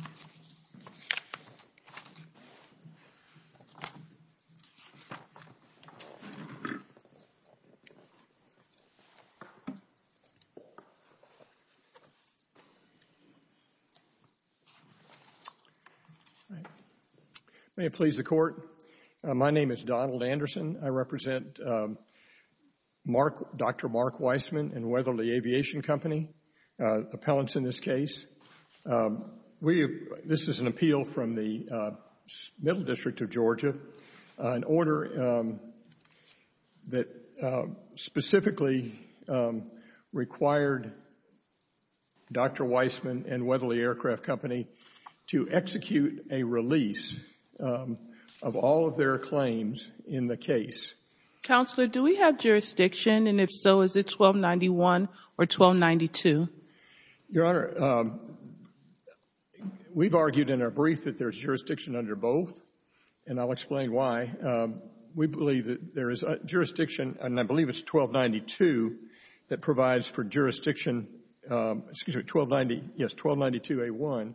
23-12527 Weissman v. Cheokas Weissman v. Cheokas Weissman v. Cheokas Weissman v. Cheokas Weissman v. Cheokas Weissman v. Cheokas May it please the Court, my name is Donald Anderson. I represent Dr. Mark Weissman and Weatherly Aviation Company, appellants in this case. This is an appeal from the Middle District of Georgia, an order that specifically required Dr. Weissman and Weatherly Aircraft Company to execute a release of all of their claims in the case. Counselor, do we have jurisdiction, and if so, is it 1291 or 1292? Your Honor, we've argued in our brief that there's jurisdiction under both, and I'll explain why. We believe that there is jurisdiction, and I believe it's 1292 that provides for jurisdiction, excuse me, 1290, yes, 1292A1,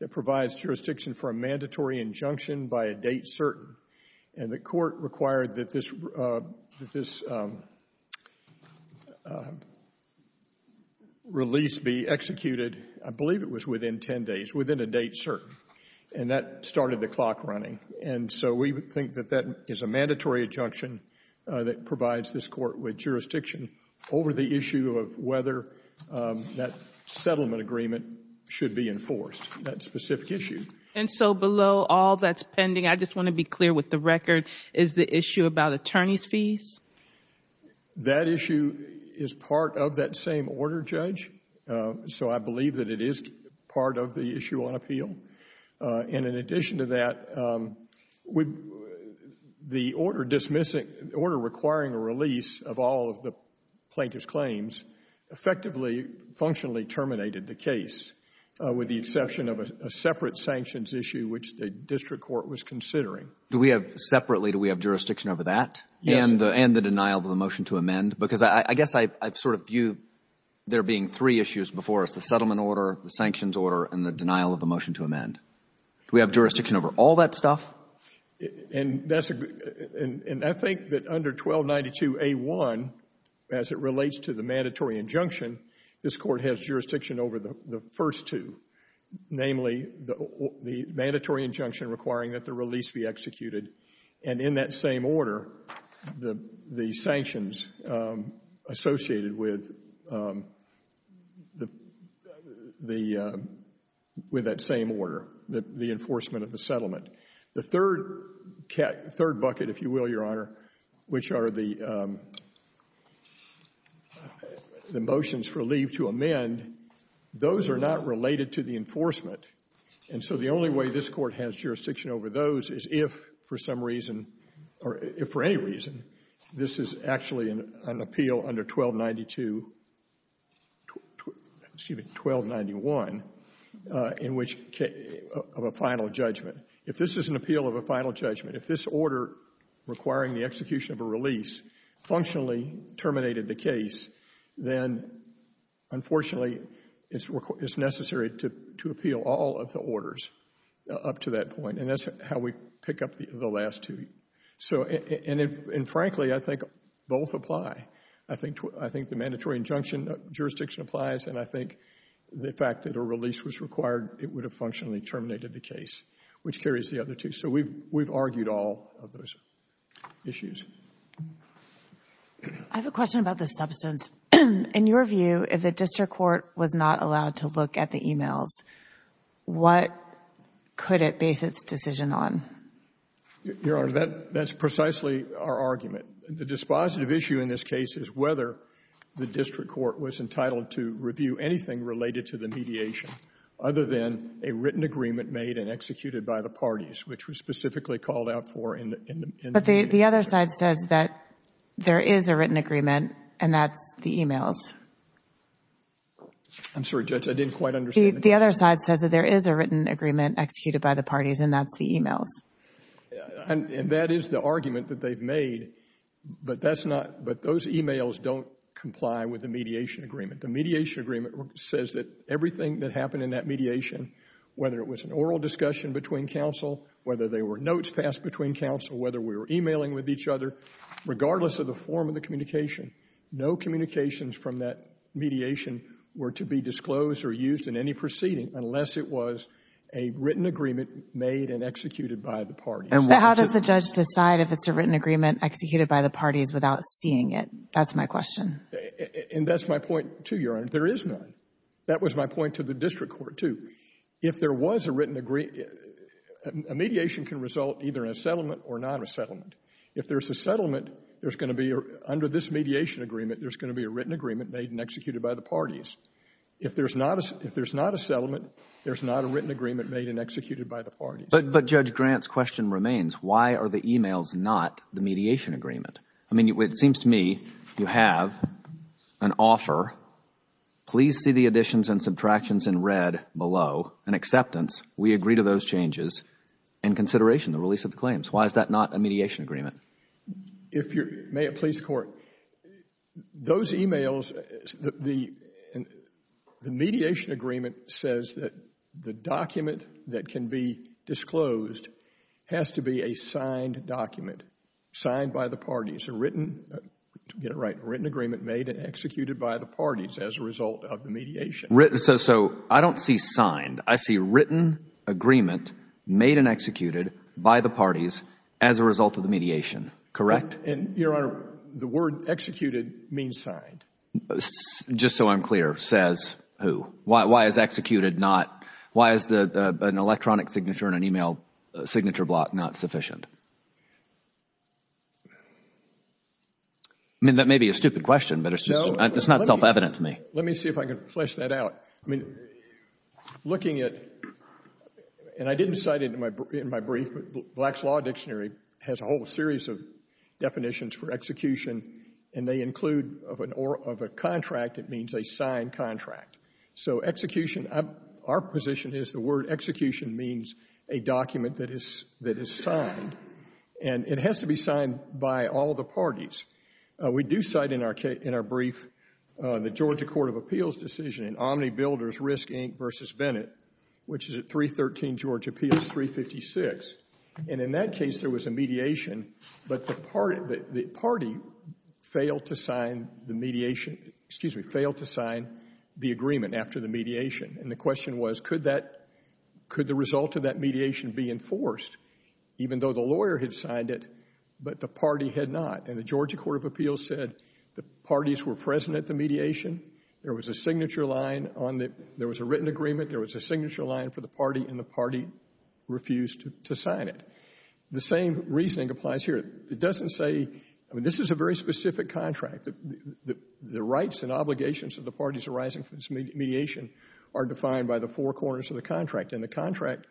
that provides jurisdiction for a mandatory injunction by a date certain. And the Court required that this release be executed, I believe it was within 10 days, within a date certain. And that started the clock running. And so we think that that is a mandatory injunction that provides this Court with jurisdiction over the issue of whether that settlement agreement should be enforced, that specific issue. And so below all that's pending, I just want to be clear with the record, is the issue about attorney's fees? That issue is part of that same order, Judge, so I believe that it is part of the issue on appeal. And in addition to that, the order requiring a release of all of the plaintiff's claims effectively, functionally terminated the case, with the exception of a separate sanctions issue, which the district court was considering. Do we have separately, do we have jurisdiction over that? Yes. And the denial of the motion to amend? Because I guess I sort of view there being three issues before us, the settlement order, the sanctions order, and the denial of the motion to amend. Do we have jurisdiction over all that stuff? And I think that under 1292A1, as it relates to the mandatory injunction, this Court has jurisdiction over the first two, namely the mandatory injunction requiring that the release be executed. And in that same order, the sanctions associated with that same order, the enforcement of the settlement. The third bucket, if you will, Your Honor, which are the motions for leave to amend, those are not related to the enforcement. And so the only way this Court has jurisdiction over those is if, for some reason, or if for any reason, this is actually an appeal under 1292, excuse me, 1291 of a final judgment. If this is an appeal of a final judgment, if this order requiring the execution of a release functionally terminated the case, then unfortunately it's necessary to appeal all of the orders up to that point. And that's how we pick up the last two. And frankly, I think both apply. I think the mandatory injunction jurisdiction applies, and I think the fact that a release was required, it would have functionally terminated the case, which carries the other two. So we've argued all of those issues. I have a question about the substance. In your view, if the district court was not allowed to look at the e-mails, what could it base its decision on? Your Honor, that's precisely our argument. The dispositive issue in this case is whether the district court was entitled to review anything related to the mediation other than a written agreement made and executed by the parties, which was specifically called out for in the mediation. But the other side says that there is a written agreement, and that's the e-mails. I'm sorry, Judge, I didn't quite understand. The other side says that there is a written agreement executed by the parties, and that's the e-mails. And that is the argument that they've made, but those e-mails don't comply with the mediation agreement. The mediation agreement says that everything that happened in that mediation, whether it was an oral discussion between counsel, whether there were notes passed between counsel, whether we were e-mailing with each other, regardless of the form of the communication, no communications from that mediation were to be disclosed or used in any proceeding unless it was a written agreement made and executed by the parties. But how does the judge decide if it's a written agreement executed by the parties without seeing it? That's my question. And that's my point, too, Your Honor. There is none. That was my point to the district court, too. If there was a written agreement, a mediation can result either in a settlement or not a settlement. If there's a settlement, there's going to be, under this mediation agreement, there's going to be a written agreement made and executed by the parties. If there's not a settlement, there's not a written agreement made and executed by the parties. But, Judge, Grant's question remains. Why are the e-mails not the mediation agreement? I mean, it seems to me you have an offer. Please see the additions and subtractions in red below in acceptance. We agree to those changes in consideration of the release of the claims. Why is that not a mediation agreement? May it please the Court, those e-mails, the mediation agreement says that the document that can be disclosed has to be a signed document, signed by the parties, to get it right, written agreement made and executed by the parties as a result of the mediation. So I don't see signed. I see written agreement made and executed by the parties as a result of the mediation. Correct? Your Honor, the word executed means signed. Just so I'm clear, says who? Why is executed not, why is an electronic signature and an e-mail signature block not sufficient? I mean, that may be a stupid question, but it's not self-evident to me. Let me see if I can flesh that out. I mean, looking at, and I didn't cite it in my brief, but Black's Law Dictionary has a whole series of definitions for execution, and they include, of a contract, it means a signed contract. So execution, our position is the word execution means a document that is signed, and it has to be signed by all the parties. We do cite in our brief the Georgia Court of Appeals decision in Omnibuilders Risk, Inc. v. Bennett, which is at 313 Georgia Appeals, 356. And in that case, there was a mediation, but the party failed to sign the mediation, excuse me, failed to sign the agreement after the mediation. And the question was, could that, could the result of that mediation be enforced, even though the lawyer had signed it, but the party had not? And the Georgia Court of Appeals said the parties were present at the mediation, there was a signature line on the, there was a written agreement, there was a signature line for the party, and the party refused to sign it. The same reasoning applies here. It doesn't say, I mean, this is a very specific contract. The rights and obligations of the parties arising from this mediation are defined by the four corners of the contract, and the contract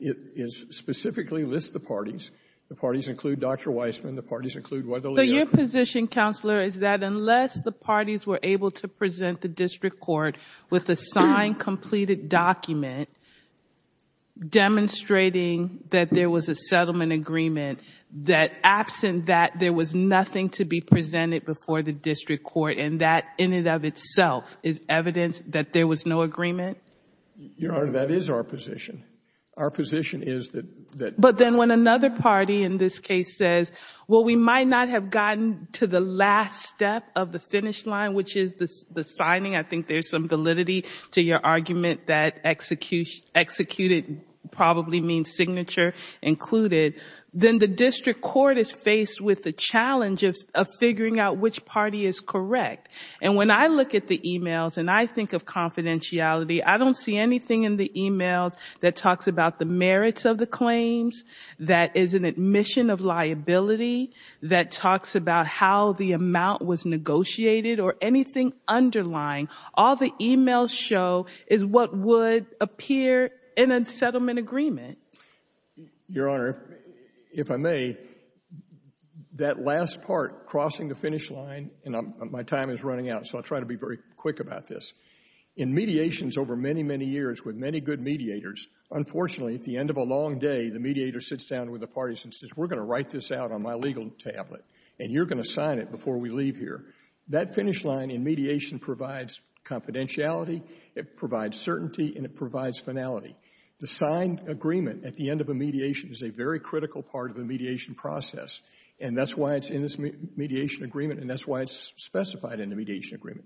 is, specifically lists the parties. The parties include Dr. Weissman, the parties include whether the lawyer So your position, Counselor, is that unless the parties were able to present the district court with a signed, completed document demonstrating that there was a settlement agreement, that absent that, there was nothing to be presented before the district court, and that in and of itself is evidence that there was no agreement? Your Honor, that is our position. Our position is that that But then when another party in this case says, well, we might not have gotten to the last step of the finish line, which is the signing, I think there's some validity to your argument that executed probably means signature included, then the district court is faced with the challenge of figuring out which party is correct. And when I look at the e-mails and I think of confidentiality, I don't see anything in the e-mails that talks about the merits of the claims, that is an admission of liability, that talks about how the amount was negotiated or anything underlying. All the e-mails show is what would appear in a settlement agreement. Your Honor, if I may, that last part, crossing the finish line, and my time is running out, so I'll try to be very quick about this. In mediations over many, many years with many good mediators, unfortunately, at the end of a long day, the mediator sits down with the parties and says, we're going to write this out on my legal tablet and you're going to sign it before we leave here. That finish line in mediation provides confidentiality, it provides certainty, and it provides finality. The signed agreement at the end of a mediation is a very critical part of the mediation process, and that's why it's in this mediation agreement and that's why it's specified in the mediation agreement.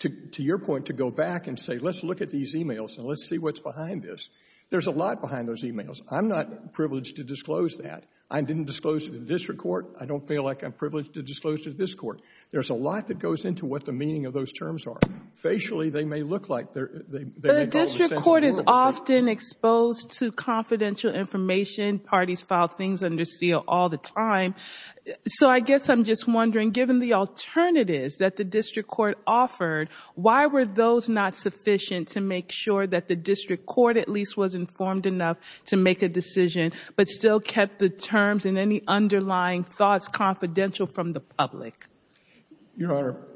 To your point, to go back and say, let's look at these e-mails and let's see what's behind this, there's a lot behind those e-mails. I'm not privileged to disclose that. I didn't disclose it to the district court. I don't feel like I'm privileged to disclose it to this court. There's a lot that goes into what the meaning of those terms are. Facially, they may look like they make all the sense. The district court is often exposed to confidential information. Parties file things under seal all the time. So I guess I'm just wondering, given the alternatives that the district court offered, why were those not sufficient to make sure that the district court at least was informed enough to make a decision but still kept the terms and any underlying thoughts confidential from the public? Your Honor,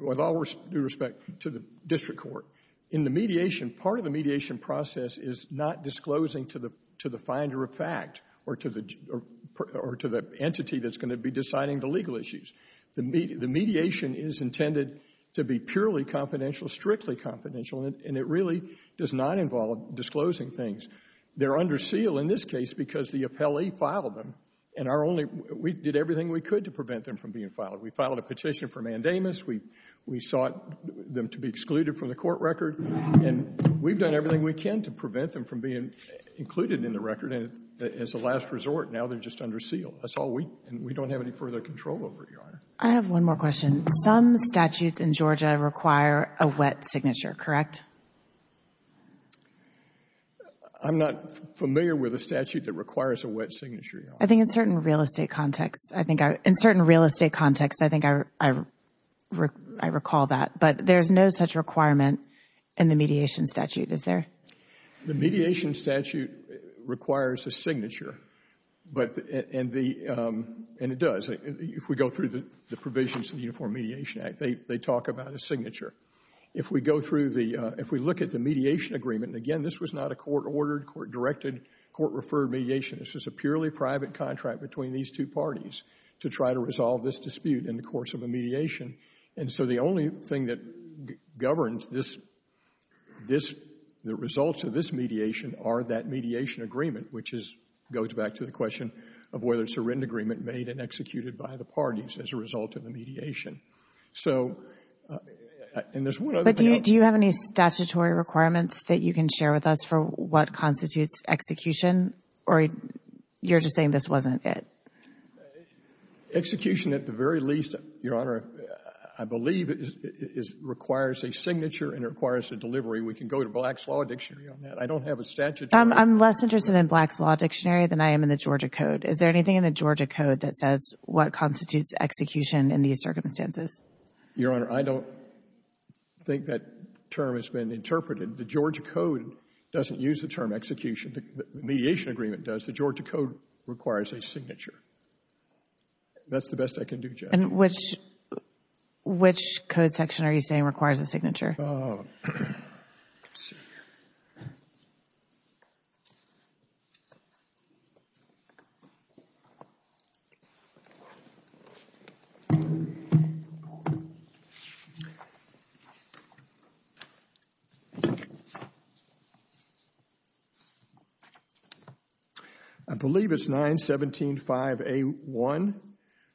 with all due respect to the district court, in the mediation, part of the mediation process is not disclosing to the finder of fact or to the entity that's going to be deciding the legal issues. The mediation is intended to be purely confidential, strictly confidential, and it really does not involve disclosing things. They're under seal in this case because the appellee filed them, and we did everything we could to prevent them from being filed. We filed a petition for mandamus. We sought them to be excluded from the court record, and we've done everything we can to prevent them from being included in the record. As a last resort, now they're just under seal. That's all we do, and we don't have any further control over it, Your Honor. I have one more question. Some statutes in Georgia require a wet signature, correct? I'm not familiar with a statute that requires a wet signature, Your Honor. I think in certain real estate contexts, I think I recall that, but there's no such requirement in the mediation statute, is there? The mediation statute requires a signature, and it does. If we go through the provisions of the Uniform Mediation Act, they talk about a signature. If we look at the mediation agreement, and, again, this was not a court-ordered, court-directed, court-referred mediation. This was a purely private contract between these two parties to try to resolve this dispute in the course of a mediation, and so the only thing that governs the results of this mediation are that mediation agreement, which goes back to the question of whether it's a written agreement made and executed by the parties as a result of the mediation. But do you have any statutory requirements that you can share with us for what constitutes execution, or you're just saying this wasn't it? Execution, at the very least, Your Honor, I believe requires a signature and requires a delivery. We can go to Black's Law Dictionary on that. I don't have a statute. I'm less interested in Black's Law Dictionary than I am in the Georgia Code. Is there anything in the Georgia Code that says what constitutes execution in these circumstances? Your Honor, I don't think that term has been interpreted. The Georgia Code doesn't use the term execution. The mediation agreement does. The Georgia Code requires a signature. That's the best I can do, Jen. And which code section are you saying requires a signature? Let's see here. I believe it's 917.5a.1,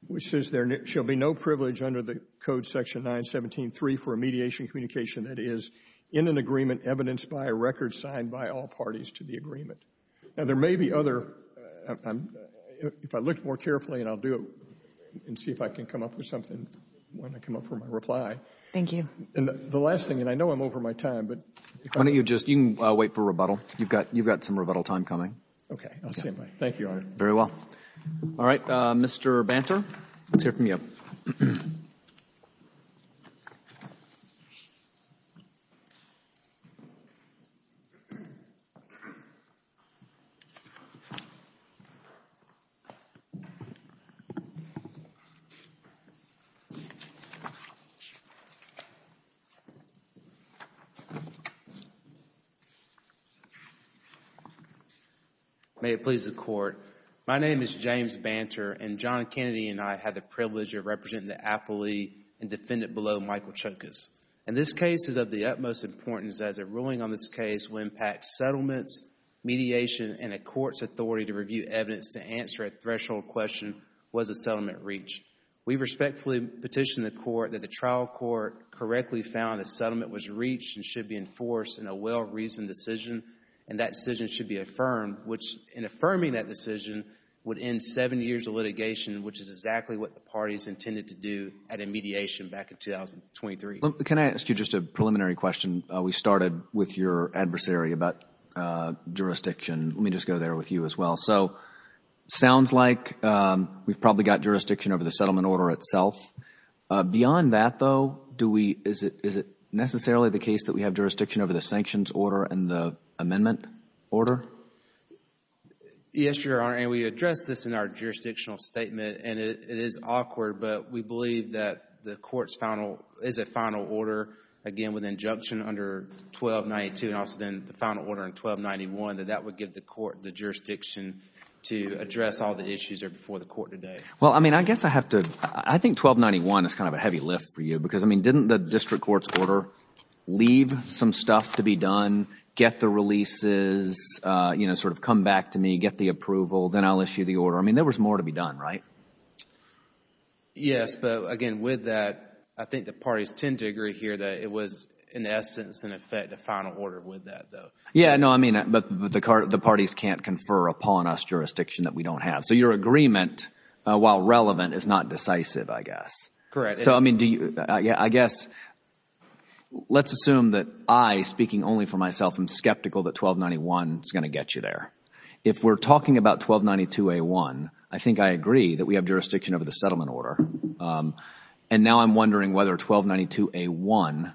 which says there shall be no privilege under the Code Section 917.3 for a mediation communication that is in an agreement evidenced by a record signed by all parties to the agreement. Now, there may be other, if I look more carefully, and I'll do it and see if I can come up with something when I come up with my reply. Thank you. And the last thing, and I know I'm over my time, but if I could. Why don't you just, you can wait for rebuttal. You've got some rebuttal time coming. Okay, I'll stand by. Thank you, Your Honor. Very well. All right, Mr. Banter, let's hear from you. May it please the Court. My name is James Banter, and John Kennedy and I had the privilege of representing the appellee and defendant below, Michael Chokas. And this case is of the utmost importance as a ruling on this case will impact settlements, mediation, and a court's authority to review evidence to answer a threshold question, was the settlement reached? We respectfully petition the Court that the trial court correctly found the settlement was reached and should be enforced in a well-reasoned decision, and that decision should be affirmed, which in affirming that decision would end seven years of litigation, which is exactly what the parties intended to do at a mediation back in 2023. Can I ask you just a preliminary question? We started with your adversary about jurisdiction. Let me just go there with you as well. So it sounds like we've probably got jurisdiction over the settlement order itself. Beyond that, though, is it necessarily the case that we have jurisdiction over the sanctions order and the amendment order? Yes, Your Honor, and we addressed this in our jurisdictional statement, and it is awkward, but we believe that the Court's final, is a final order, again, with injunction under 1292 and also then the final order in 1291, that that would give the Court the jurisdiction to address all the issues that are before the Court today. Well, I mean, I guess I have to, I think 1291 is kind of a heavy lift for you, because, I mean, didn't the district court's order leave some stuff to be done, get the releases, you know, sort of come back to me, get the approval, then I'll issue the order? I mean, there was more to be done, right? Yes, but, again, with that, I think the parties tend to agree here that it was, in essence, in effect, a final order with that, though. Yeah, no, I mean, but the parties can't confer upon us jurisdiction that we don't have. So your agreement, while relevant, is not decisive, I guess. So, I mean, do you, I guess, let's assume that I, speaking only for myself, am skeptical that 1291 is going to get you there. If we're talking about 1292A1, I think I agree that we have jurisdiction over the settlement order, and now I'm wondering whether 1292A1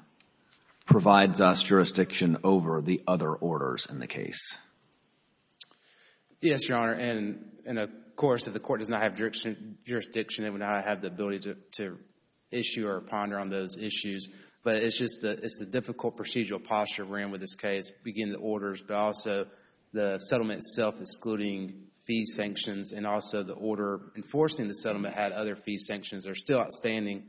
provides us jurisdiction over the other orders in the case. Yes, Your Honor, and, of course, if the court does not have jurisdiction, it would not have the ability to issue or ponder on those issues, but it's just the difficult procedural posture we're in with this case, beginning the orders, but also the settlement itself excluding fees sanctions and also the order enforcing the settlement had other fees sanctions are still outstanding,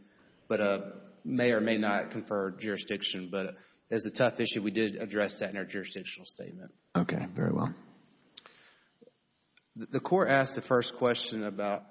but may or may not confer jurisdiction, but it's a tough issue. We did address that in our jurisdictional statement. Okay, very well. The court asked the first question about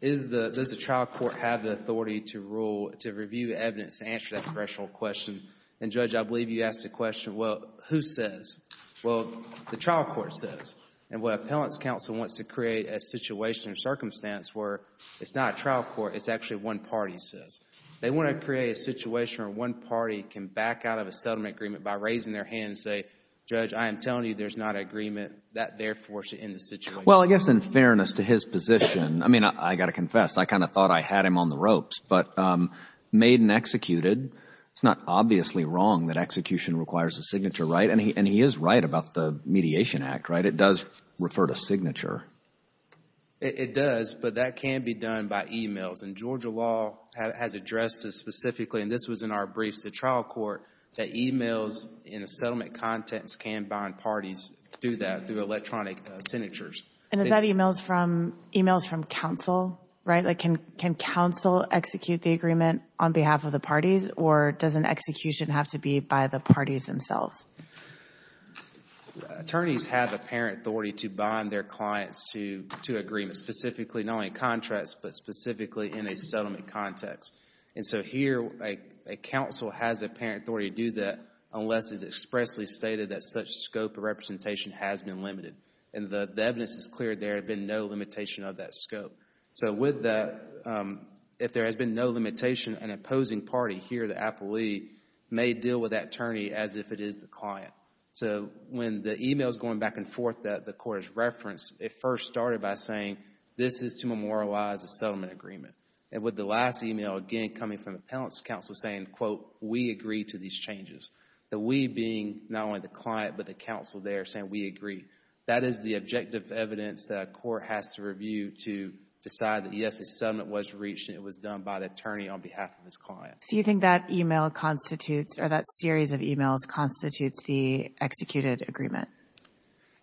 does the trial court have the authority to rule, to review evidence to answer that threshold question, and, Judge, I believe you asked the question, well, who says? Well, the trial court says, and what appellant's counsel wants to create a situation or circumstance where it's not a trial court, it's actually one party says. They want to create a situation where one party can back out of a settlement agreement by raising their hand and say, Judge, I am telling you there's not agreement, that therefore should end the situation. Well, I guess in fairness to his position, I mean, I've got to confess, I kind of thought I had him on the ropes, but made and executed, it's not obviously wrong that execution requires a signature, right? And he is right about the Mediation Act, right? It does refer to signature. It does, but that can be done by e-mails, and Georgia law has addressed this specifically, and this was in our briefs to trial court, that e-mails in a settlement context can bind parties through that, through electronic signatures. And is that e-mails from counsel, right? Like, can counsel execute the agreement on behalf of the parties, or does an execution have to be by the parties themselves? Attorneys have apparent authority to bind their clients to agreements, specifically not only in contracts, but specifically in a settlement context. And so here, a counsel has apparent authority to do that, unless it is expressly stated that such scope of representation has been limited. And the evidence is clear there has been no limitation of that scope. So with that, if there has been no limitation, an opposing party here, the appellee, may deal with that attorney as if it is the client. So when the e-mail is going back and forth that the court has referenced, it first started by saying, this is to memorialize a settlement agreement. And with the last e-mail, again, coming from the appellant's counsel saying, quote, we agree to these changes. The we being not only the client, but the counsel there saying we agree. That is the objective evidence that a court has to review to decide that, yes, a settlement was reached and it was done by the attorney on behalf of his client. So you think that e-mail constitutes, or that series of e-mails constitutes, the executed agreement?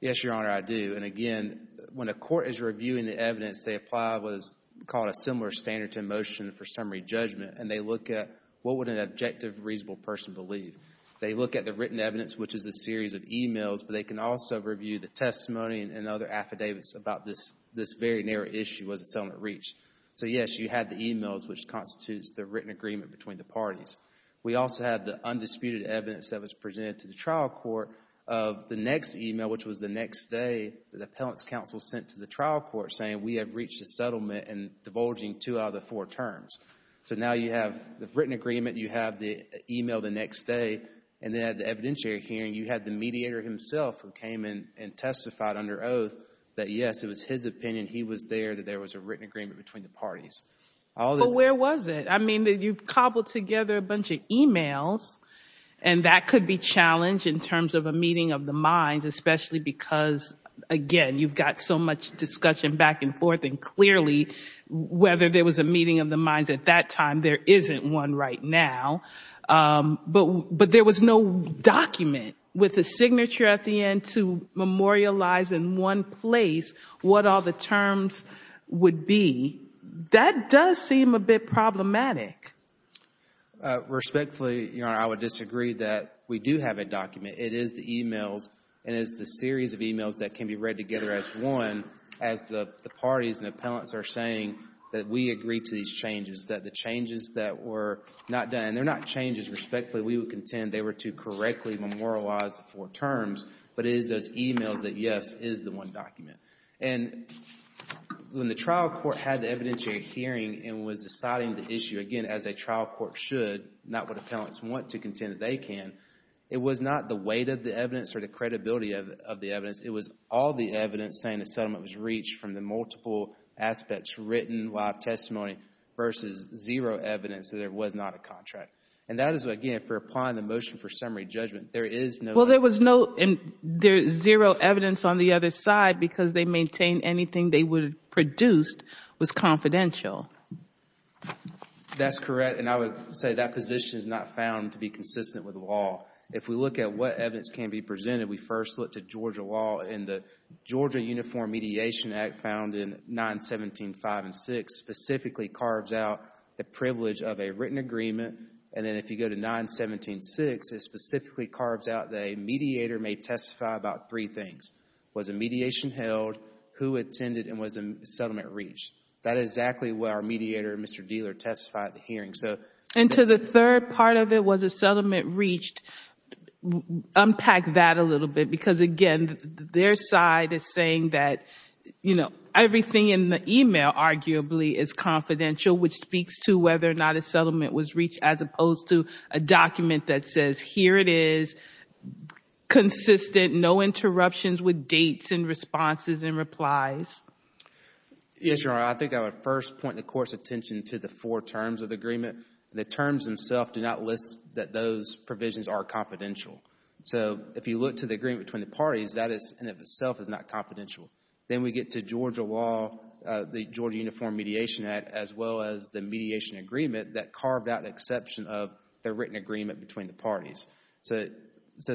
Yes, Your Honor, I do. And again, when a court is reviewing the evidence, they apply what is called a similar standard to a motion for summary judgment, and they look at what would an objective, reasonable person believe. They look at the written evidence, which is a series of e-mails, but they can also review the testimony and other affidavits about this very narrow issue as a settlement reached. So, yes, you have the e-mails, which constitutes the written agreement between the parties. We also have the undisputed evidence that was presented to the trial court of the next e-mail, which was the next day, the appellant's counsel sent to the trial court saying, we have reached a settlement and divulging two out of the four terms. So now you have the written agreement, you have the e-mail the next day, and then at the evidentiary hearing, you had the mediator himself who came in and testified under oath that, yes, it was his opinion, he was there, that there was a written agreement between the parties. But where was it? I mean, you've cobbled together a bunch of e-mails, and that could be challenged in terms of a meeting of the minds, especially because, again, you've got so much discussion back and forth, and clearly whether there was a meeting of the minds at that time, there isn't one right now. But there was no document with a signature at the end to memorialize in one place what all the terms would be. That does seem a bit problematic. Respectfully, Your Honor, I would disagree that we do have a document. It is the e-mails, and it is the series of e-mails that can be read together as one, as the parties and the appellants are saying that we agree to these changes, that the changes that were not done, and they're not changes, respectfully, we would contend they were to correctly memorialize the four terms, but it is those e-mails that, yes, is the one document. And when the trial court had the evidentiary hearing and was deciding the issue, again, as a trial court should, not what appellants want to contend that they can, it was not the weight of the evidence or the credibility of the evidence. It was all the evidence saying the settlement was reached from the multiple aspects written while testimony versus zero evidence that there was not a contract. And that is, again, for applying the motion for summary judgment. There is no evidence. Well, there was no zero evidence on the other side because they maintained anything they produced was confidential. That's correct. And I would say that position is not found to be consistent with the law. If we look at what evidence can be presented, we first look to Georgia law. And the Georgia Uniform Mediation Act found in 917.5 and 6 specifically carves out the privilege of a written agreement. And then if you go to 917.6, it specifically carves out the mediator may testify about three things, was a mediation held, who attended, and was the settlement reached. That is exactly what our mediator, Mr. Dealer, testified at the hearing. And to the third part of it was a settlement reached, unpack that a little bit. Because, again, their side is saying that, you know, everything in the email arguably is confidential, which speaks to whether or not a settlement was reached, as opposed to a document that says here it is, consistent, no interruptions with dates and responses and replies. Yes, Your Honor. Your Honor, I think I would first point the Court's attention to the four terms of the agreement. The terms themselves do not list that those provisions are confidential. So if you look to the agreement between the parties, that in and of itself is not confidential. Then we get to Georgia law, the Georgia Uniform Mediation Act, as well as the mediation agreement that carved out an exception of the written agreement between the parties. So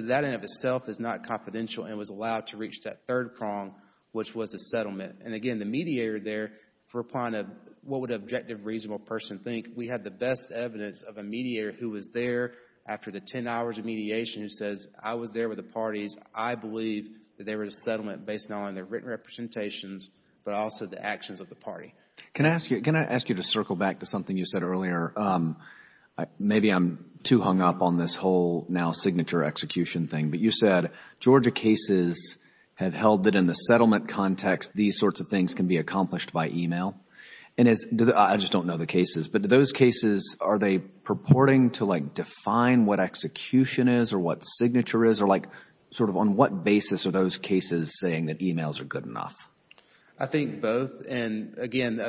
that in and of itself is not confidential and was allowed to reach that third prong, which was a settlement. And, again, the mediator there, what would an objective, reasonable person think? We had the best evidence of a mediator who was there after the ten hours of mediation who says I was there with the parties. I believe that they were in a settlement based not only on their written representations, but also the actions of the party. Can I ask you to circle back to something you said earlier? Maybe I'm too hung up on this whole now signature execution thing. But you said Georgia cases have held that in the settlement context, these sorts of things can be accomplished by e-mail. I just don't know the cases, but those cases, are they purporting to define what execution is or what signature is? Or on what basis are those cases saying that e-mails are good enough? I think both. And, again,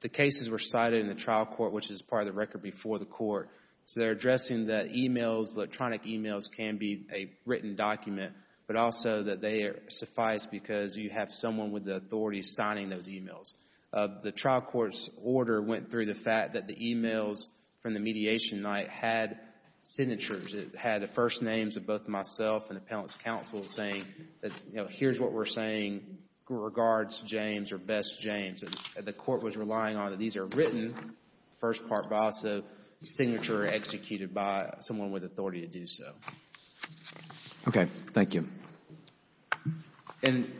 the cases were cited in the trial court, which is part of the record before the court. So they're addressing that e-mails, electronic e-mails can be a written document, but also that they suffice because you have someone with the authority signing those e-mails. The trial court's order went through the fact that the e-mails from the mediation night had signatures. It had the first names of both myself and the appellant's counsel saying, here's what we're saying regards James or best James. The court was relying on that these are written, first part, but also signature executed by someone with authority to do so. Okay. Thank you. And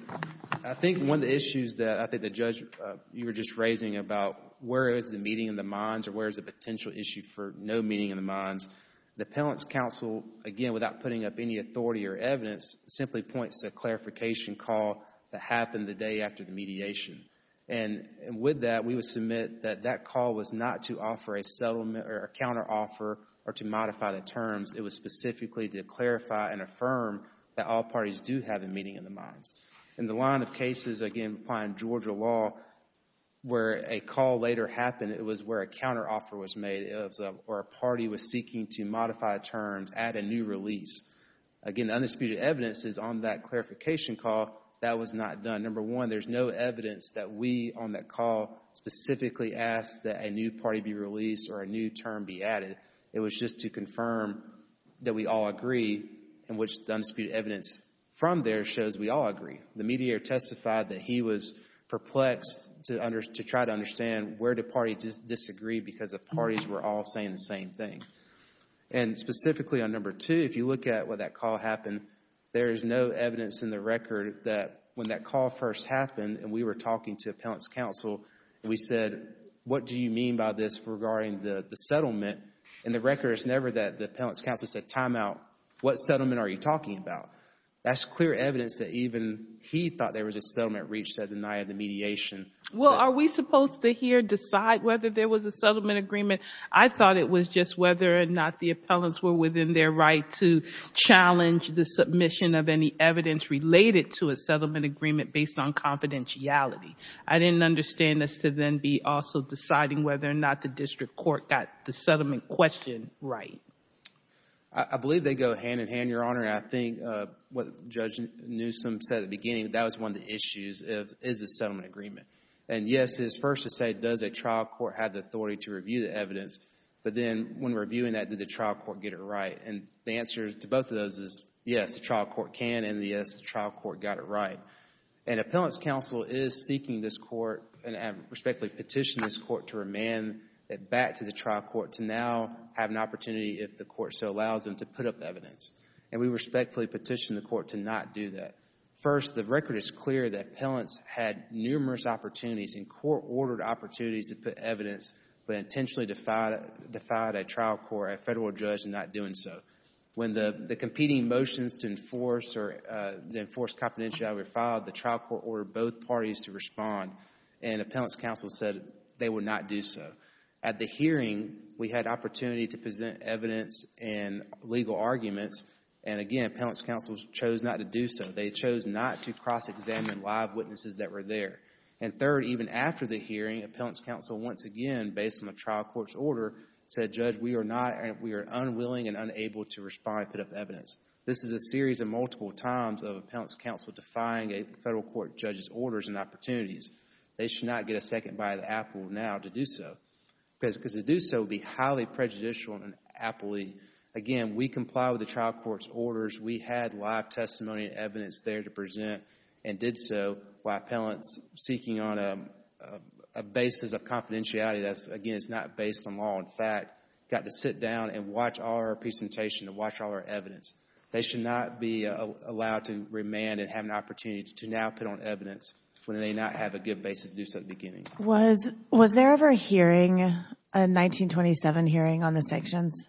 I think one of the issues that I think the judge, you were just raising about where is the meeting in the minds or where is the potential issue for no meeting in the minds, the appellant's counsel, again, without putting up any authority or evidence, simply points to a clarification call that happened the day after the mediation. And with that, we would submit that that call was not to offer a settlement or a counteroffer or to modify the terms. It was specifically to clarify and affirm that all parties do have a meeting in the minds. In the line of cases, again, applying Georgia law, where a call later happened, it was where a counteroffer was made or a party was seeking to modify terms, add a new release. Again, the undisputed evidence is on that clarification call that was not done. Number one, there's no evidence that we on that call specifically asked that a new party be released or a new term be added. It was just to confirm that we all agree, in which the undisputed evidence from there shows we all agree. The mediator testified that he was perplexed to try to understand where the party disagreed because the parties were all saying the same thing. And specifically on number two, if you look at what that call happened, there is no evidence in the record that when that call first happened and we were talking to appellant's counsel and we said, what do you mean by this regarding the settlement? In the record, it's never that the appellant's counsel said timeout, what settlement are you talking about? That's clear evidence that even he thought there was a settlement reached that denied the mediation. Well, are we supposed to here decide whether there was a settlement agreement? I thought it was just whether or not the appellants were within their right to challenge the submission of any evidence related to a settlement agreement based on confidentiality. I didn't understand this to then be also deciding whether or not the district court got the settlement question right. I believe they go hand in hand, Your Honor. And I think what Judge Newsom said at the beginning, that was one of the issues, is a settlement agreement. And yes, it's first to say does a trial court have the authority to review the evidence, but then when reviewing that, did the trial court get it right? And the answer to both of those is yes, the trial court can, and yes, the trial court got it right. And appellant's counsel is seeking this court and respectfully petition this court to remand it back to the trial court to now have an opportunity, if the court so allows them, to put up evidence. And we respectfully petition the court to not do that. First, the record is clear that appellants had numerous opportunities and court-ordered opportunities to put evidence, but intentionally defied a trial court, a federal judge, in not doing so. When the competing motions to enforce confidentiality were filed, the trial court ordered both parties to respond, and appellants' counsel said they would not do so. At the hearing, we had opportunity to present evidence and legal arguments, and again, appellants' counsel chose not to do so. They chose not to cross-examine live witnesses that were there. And third, even after the hearing, appellants' counsel once again, based on the trial court's order, said, Judge, we are unwilling and unable to respond and put up evidence. This is a series of multiple times of appellants' counsel defying a federal court judge's orders and opportunities. They should not get a second bite out of the apple now to do so, because to do so would be highly prejudicial and appley. Again, we comply with the trial court's orders. We had live testimony and evidence there to present, and did so while appellants seeking on a basis of confidentiality that's, again, it's not based on law. In fact, got to sit down and watch our presentation and watch all our evidence. They should not be allowed to remand and have an opportunity to now put on evidence when they may not have a good basis to do so at the beginning. Was there ever a hearing, a 1927 hearing, on the sanctions?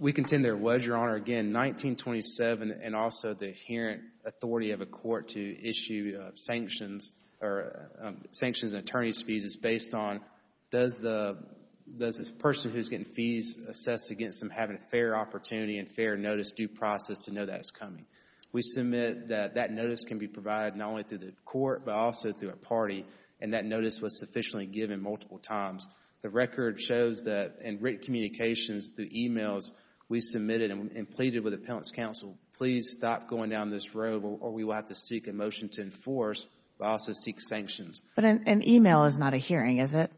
We contend there was, Your Honor. Again, 1927 and also the hearing authority of a court to issue sanctions and attorney's fees is based on does the person who's getting fees assess against them having a fair opportunity and fair notice, due process, to know that it's coming. We submit that that notice can be provided not only through the court but also through a party, and that notice was sufficiently given multiple times. The record shows that in written communications through emails, we submitted and pleaded with appellants' counsel, please stop going down this road or we will have to seek a motion to enforce, but also seek sanctions. But an email is not a hearing, is it?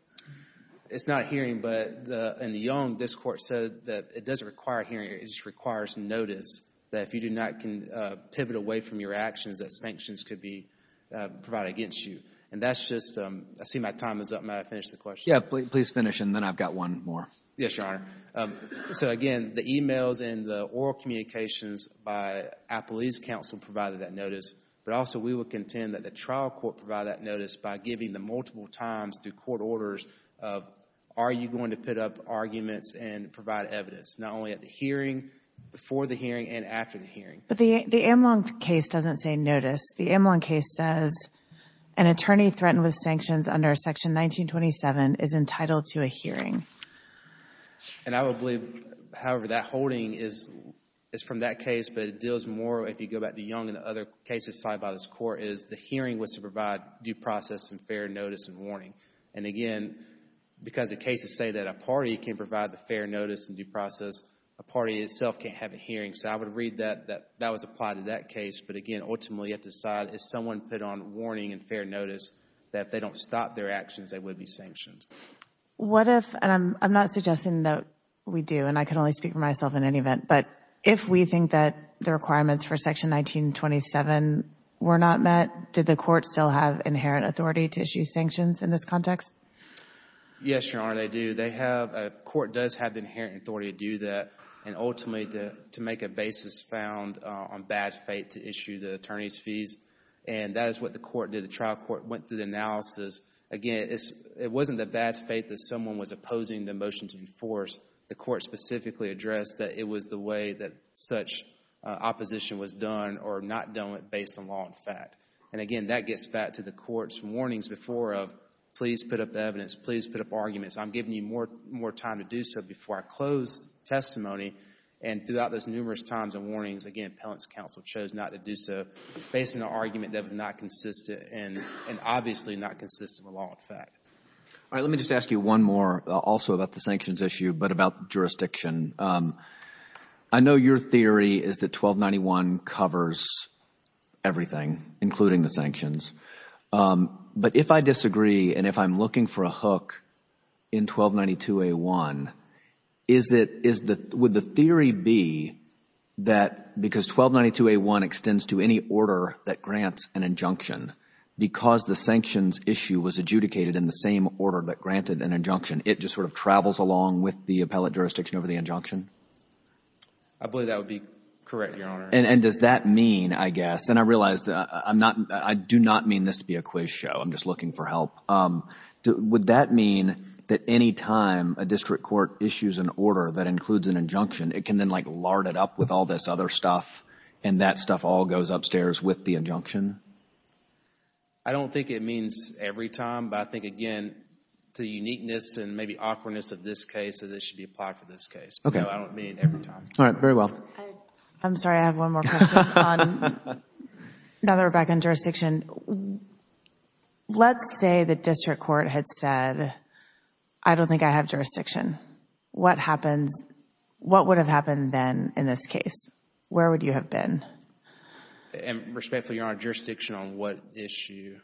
It's not a hearing, but in the young, this court said that it doesn't require a hearing. It just requires notice that if you do not pivot away from your actions, that sanctions could be provided against you. And that's just, I see my time is up. May I finish the question? Yeah, please finish and then I've got one more. Yes, Your Honor. So, again, the emails and the oral communications by appellate's counsel provided that notice, but also we would contend that the trial court provided that notice by giving them multiple times through court orders of are you going to put up arguments and provide evidence, not only at the hearing, before the hearing, and after the hearing. But the Amlong case doesn't say notice. The Amlong case says an attorney threatened with sanctions under Section 1927 is entitled to a hearing. And I would believe, however, that holding is from that case, but it deals more, if you go back to the young and other cases cited by this court, is the hearing was to provide due process and fair notice and warning. And, again, because the cases say that a party can provide the fair notice and due process, a party itself can't have a hearing. So I would read that that was applied to that case. But, again, ultimately you have to decide if someone put on warning and fair notice that if they don't stop their actions, they would be sanctioned. What if, and I'm not suggesting that we do, and I can only speak for myself in any event, but if we think that the requirements for Section 1927 were not met, did the court still have inherent authority to issue sanctions in this context? Yes, Your Honor, they do. The court does have the inherent authority to do that and ultimately to make a basis found on bad faith to issue the attorney's fees. And that is what the court did. The trial court went through the analysis. Again, it wasn't the bad faith that someone was opposing the motion to enforce. The court specifically addressed that it was the way that such opposition was done or not done based on law and fact. And, again, that gets back to the court's warnings before of please put up evidence, please put up arguments. I'm giving you more time to do so before I close testimony. And throughout those numerous times and warnings, again, appellant's counsel chose not to do so based on an argument that was not consistent and obviously not consistent with law and fact. All right, let me just ask you one more also about the sanctions issue. But about jurisdiction, I know your theory is that 1291 covers everything, including the sanctions. But if I disagree and if I'm looking for a hook in 1292A1, would the theory be that because 1292A1 extends to any order that grants an injunction, because the sanctions issue was adjudicated in the same order that granted an injunction, it just sort of travels along with the appellate jurisdiction over the injunction? I believe that would be correct, Your Honor. And does that mean, I guess, and I realize that I do not mean this to be a quiz show. I'm just looking for help. Would that mean that any time a district court issues an order that includes an injunction, it can then like lard it up with all this other stuff and that stuff all goes upstairs with the injunction? I don't think it means every time. But I think, again, to the uniqueness and maybe awkwardness of this case, that it should be applied for this case. I don't mean every time. All right, very well. I'm sorry, I have one more question. Now that we're back on jurisdiction, let's say the district court had said, I don't think I have jurisdiction. What happens, what would have happened then in this case? Where would you have been? And respectfully, Your Honor, jurisdiction on what issue?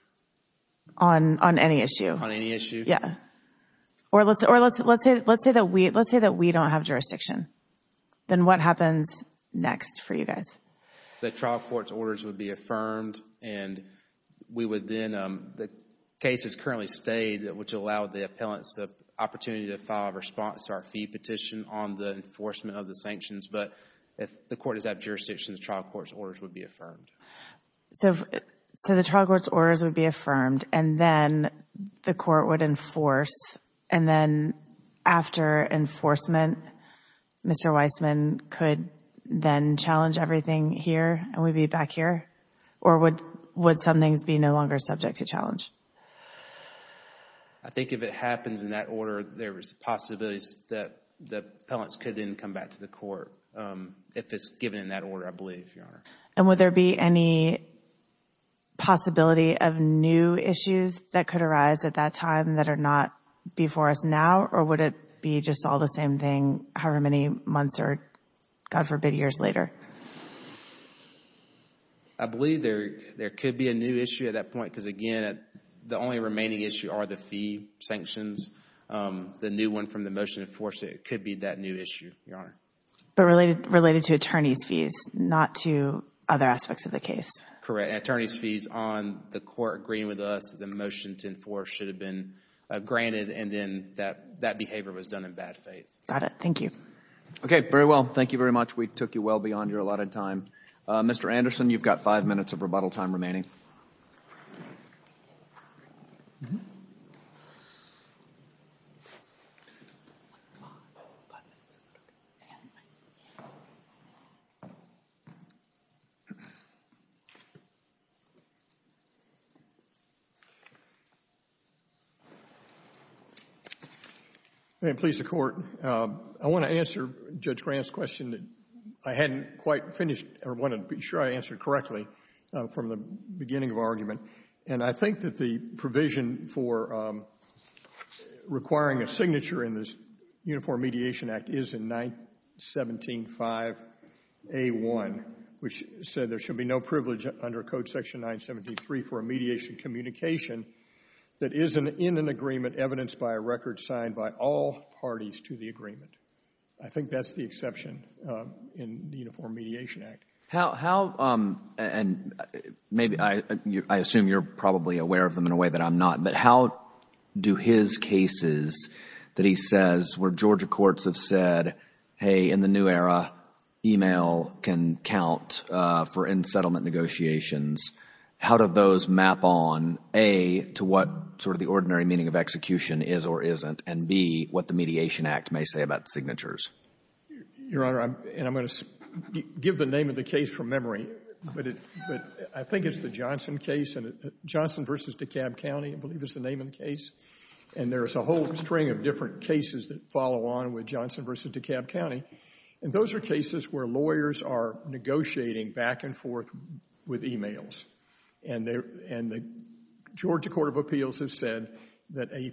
On any issue. On any issue? Yeah. Or let's say that we don't have jurisdiction. Then what happens next for you guys? The trial court's orders would be affirmed and we would then, the case has currently stayed, which allowed the appellants the opportunity to file a response to our fee petition on the enforcement of the sanctions. But if the court does have jurisdiction, the trial court's orders would be affirmed. So the trial court's orders would be affirmed, and then the court would enforce, and then after enforcement, Mr. Weissman could then challenge everything here and we'd be back here? Or would some things be no longer subject to challenge? I think if it happens in that order, there is possibilities that the appellants could then come back to the court if it's given in that order, I believe, Your Honor. And would there be any possibility of new issues that could arise at that time that are not before us now, or would it be just all the same thing however many months or, God forbid, years later? I believe there could be a new issue at that point because, again, the only remaining issue are the fee sanctions. The new one from the motion to enforce it could be that new issue, Your Honor. But related to attorney's fees, not to other aspects of the case. Correct. And attorney's fees on the court agreeing with us that the motion to enforce should have been granted, and then that behavior was done in bad faith. Got it. Thank you. Okay, very well. Thank you very much. We took you well beyond your allotted time. Mr. Anderson, you've got five minutes of rebuttal time remaining. May it please the Court. I want to answer Judge Grant's question that I hadn't quite finished or wanted to be sure I answered correctly from the beginning of our argument. And I think that the provision for requiring a signature in this Uniform Mediation Act is in 917.5a.1, which said there should be no privilege under Code Section 973 for a mediation communication that isn't in an agreement evidenced by a record signed by all parties to the agreement. I think that's the exception in the Uniform Mediation Act. And I assume you're probably aware of them in a way that I'm not, but how do his cases that he says where Georgia courts have said, hey, in the new era, email can count for in-settlement negotiations, how do those map on, a, to what sort of the ordinary meaning of execution is or isn't, and, b, what the Mediation Act may say about signatures? Your Honor, and I'm going to give the name of the case from memory, but I think it's the Johnson case. Johnson v. DeKalb County, I believe, is the name of the case. And there's a whole string of different cases that follow on with Johnson v. DeKalb County. And those are cases where lawyers are negotiating back and forth with emails. And the Georgia Court of Appeals has said that a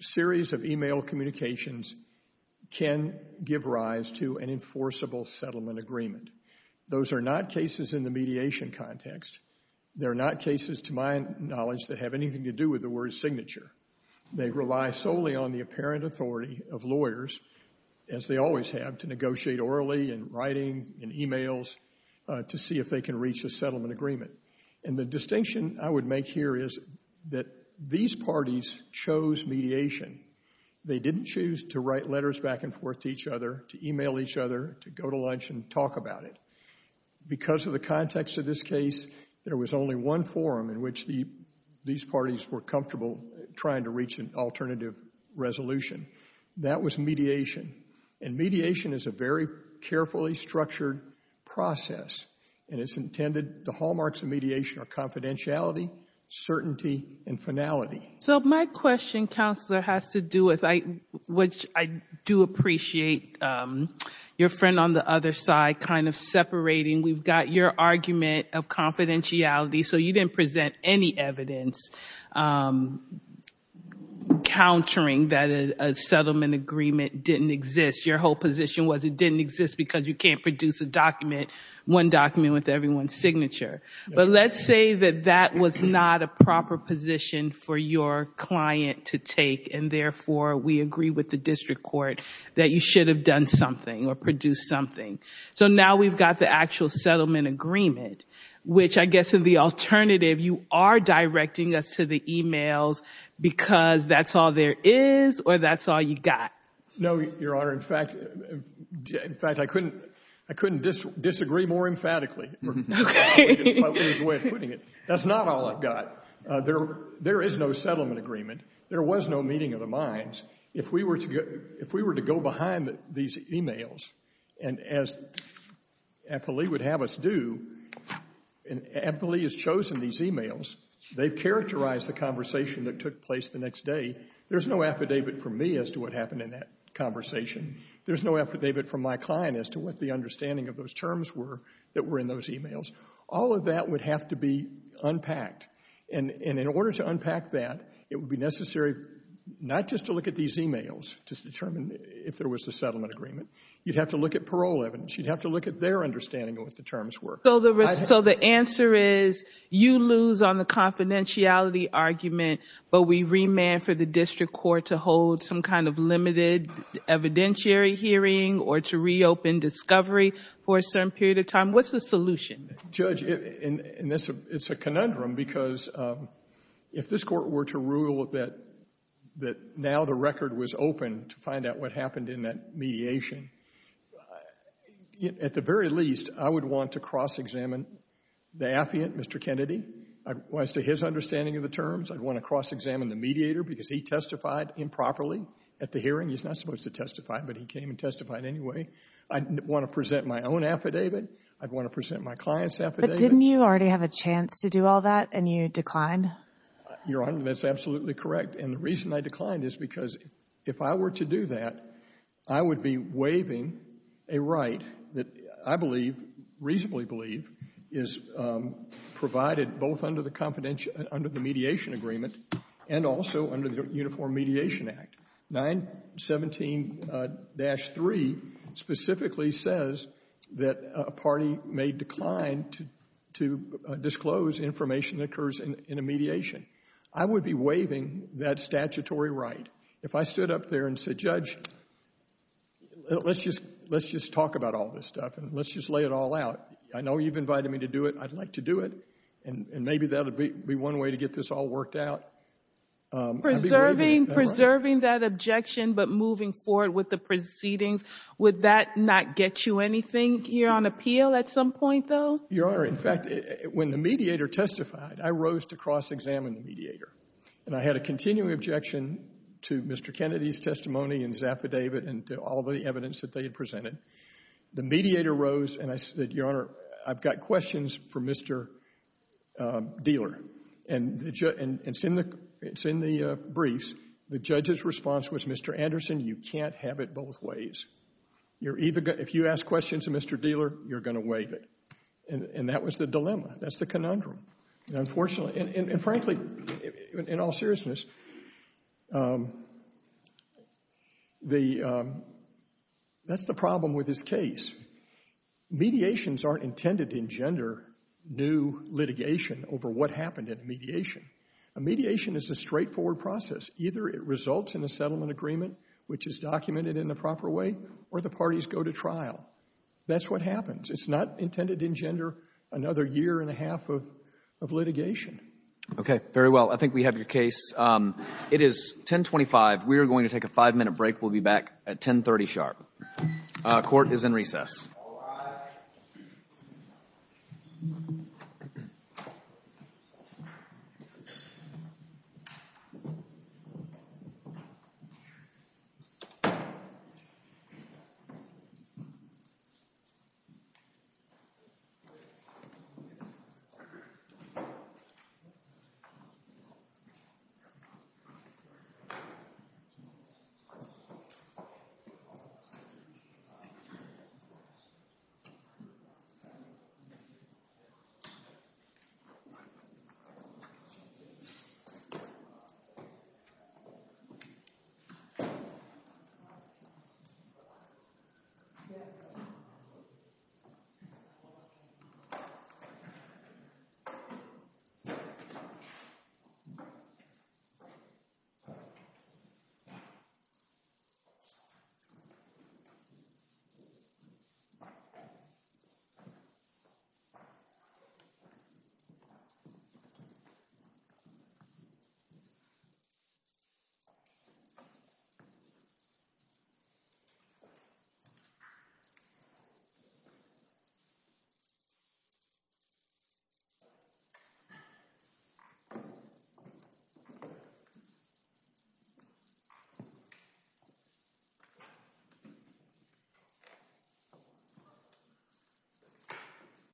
series of email communications can give rise to an enforceable settlement agreement. Those are not cases in the mediation context. They're not cases, to my knowledge, that have anything to do with the word signature. They rely solely on the apparent authority of lawyers, as they always have, to negotiate orally and writing and emails to see if they can reach a settlement agreement. And the distinction I would make here is that these parties chose mediation. They didn't choose to write letters back and forth to each other, to email each other, to go to lunch and talk about it. Because of the context of this case, there was only one forum in which these parties were comfortable trying to reach an alternative resolution. That was mediation. And mediation is a very carefully structured process. And it's intended, the hallmarks of mediation are confidentiality, certainty, and finality. So my question, Counselor, has to do with, which I do appreciate your friend on the other side kind of separating, we've got your argument of confidentiality. So you didn't present any evidence countering that a settlement agreement didn't exist. Your whole position was it didn't exist because you can't produce a document, one document with everyone's signature. But let's say that that was not a proper position for your client to take, and therefore we agree with the district court that you should have done something or produced something. So now we've got the actual settlement agreement, which I guess is the alternative. You are directing us to the emails because that's all there is or that's all you've got. No, Your Honor. In fact, I couldn't disagree more emphatically. Okay. That's not all I've got. There is no settlement agreement. There was no meeting of the minds. If we were to go behind these emails, and as Eppley would have us do, and Eppley has chosen these emails, they've characterized the conversation that took place the next day. There's no affidavit from me as to what happened in that conversation. There's no affidavit from my client as to what the understanding of those terms were that were in those emails. All of that would have to be unpacked. And in order to unpack that, it would be necessary not just to look at these emails to determine if there was a settlement agreement. You'd have to look at parole evidence. You'd have to look at their understanding of what the terms were. So the answer is you lose on the confidentiality argument, but we remand for the district court to hold some kind of limited evidentiary hearing or to reopen discovery for a certain period of time. What's the solution? Judge, it's a conundrum because if this court were to rule that now the record was open to find out what happened in that mediation, at the very least I would want to cross-examine the affiant, Mr. Kennedy, as to his understanding of the terms. I'd want to cross-examine the mediator because he testified improperly at the hearing. He's not supposed to testify, but he came and testified anyway. I'd want to present my own affidavit. I'd want to present my client's affidavit. But didn't you already have a chance to do all that and you declined? Your Honor, that's absolutely correct. And the reason I declined is because if I were to do that, I would be waiving a right that I believe, reasonably believe, is provided both under the mediation agreement and also under the Uniform Mediation Act. 917-3 specifically says that a party may decline to disclose information that occurs in a mediation. I would be waiving that statutory right. If I stood up there and said, Judge, let's just talk about all this stuff and let's just lay it all out. I know you've invited me to do it. I'd like to do it. And maybe that would be one way to get this all worked out. Preserving that objection but moving forward with the proceedings, would that not get you anything here on appeal at some point, though? Your Honor, in fact, when the mediator testified, I rose to cross-examine the mediator. And I had a continuing objection to Mr. Kennedy's testimony and his affidavit and to all the evidence that they had presented. The mediator rose and I said, Your Honor, I've got questions for Mr. Dealer. And it's in the briefs. The judge's response was, Mr. Anderson, you can't have it both ways. If you ask questions of Mr. Dealer, you're going to waive it. And that was the dilemma. That's the conundrum. And, frankly, in all seriousness, that's the problem with this case. Mediations aren't intended to engender new litigation over what happened in mediation. A mediation is a straightforward process. Either it results in a settlement agreement, which is documented in the proper way, or the parties go to trial. That's what happens. It's not intended to engender another year and a half of litigation. Okay, very well. I think we have your case. It is 1025. We are going to take a five-minute break. We'll be back at 1030 sharp. Court is in recess. Thank you. Thank you. Thank you.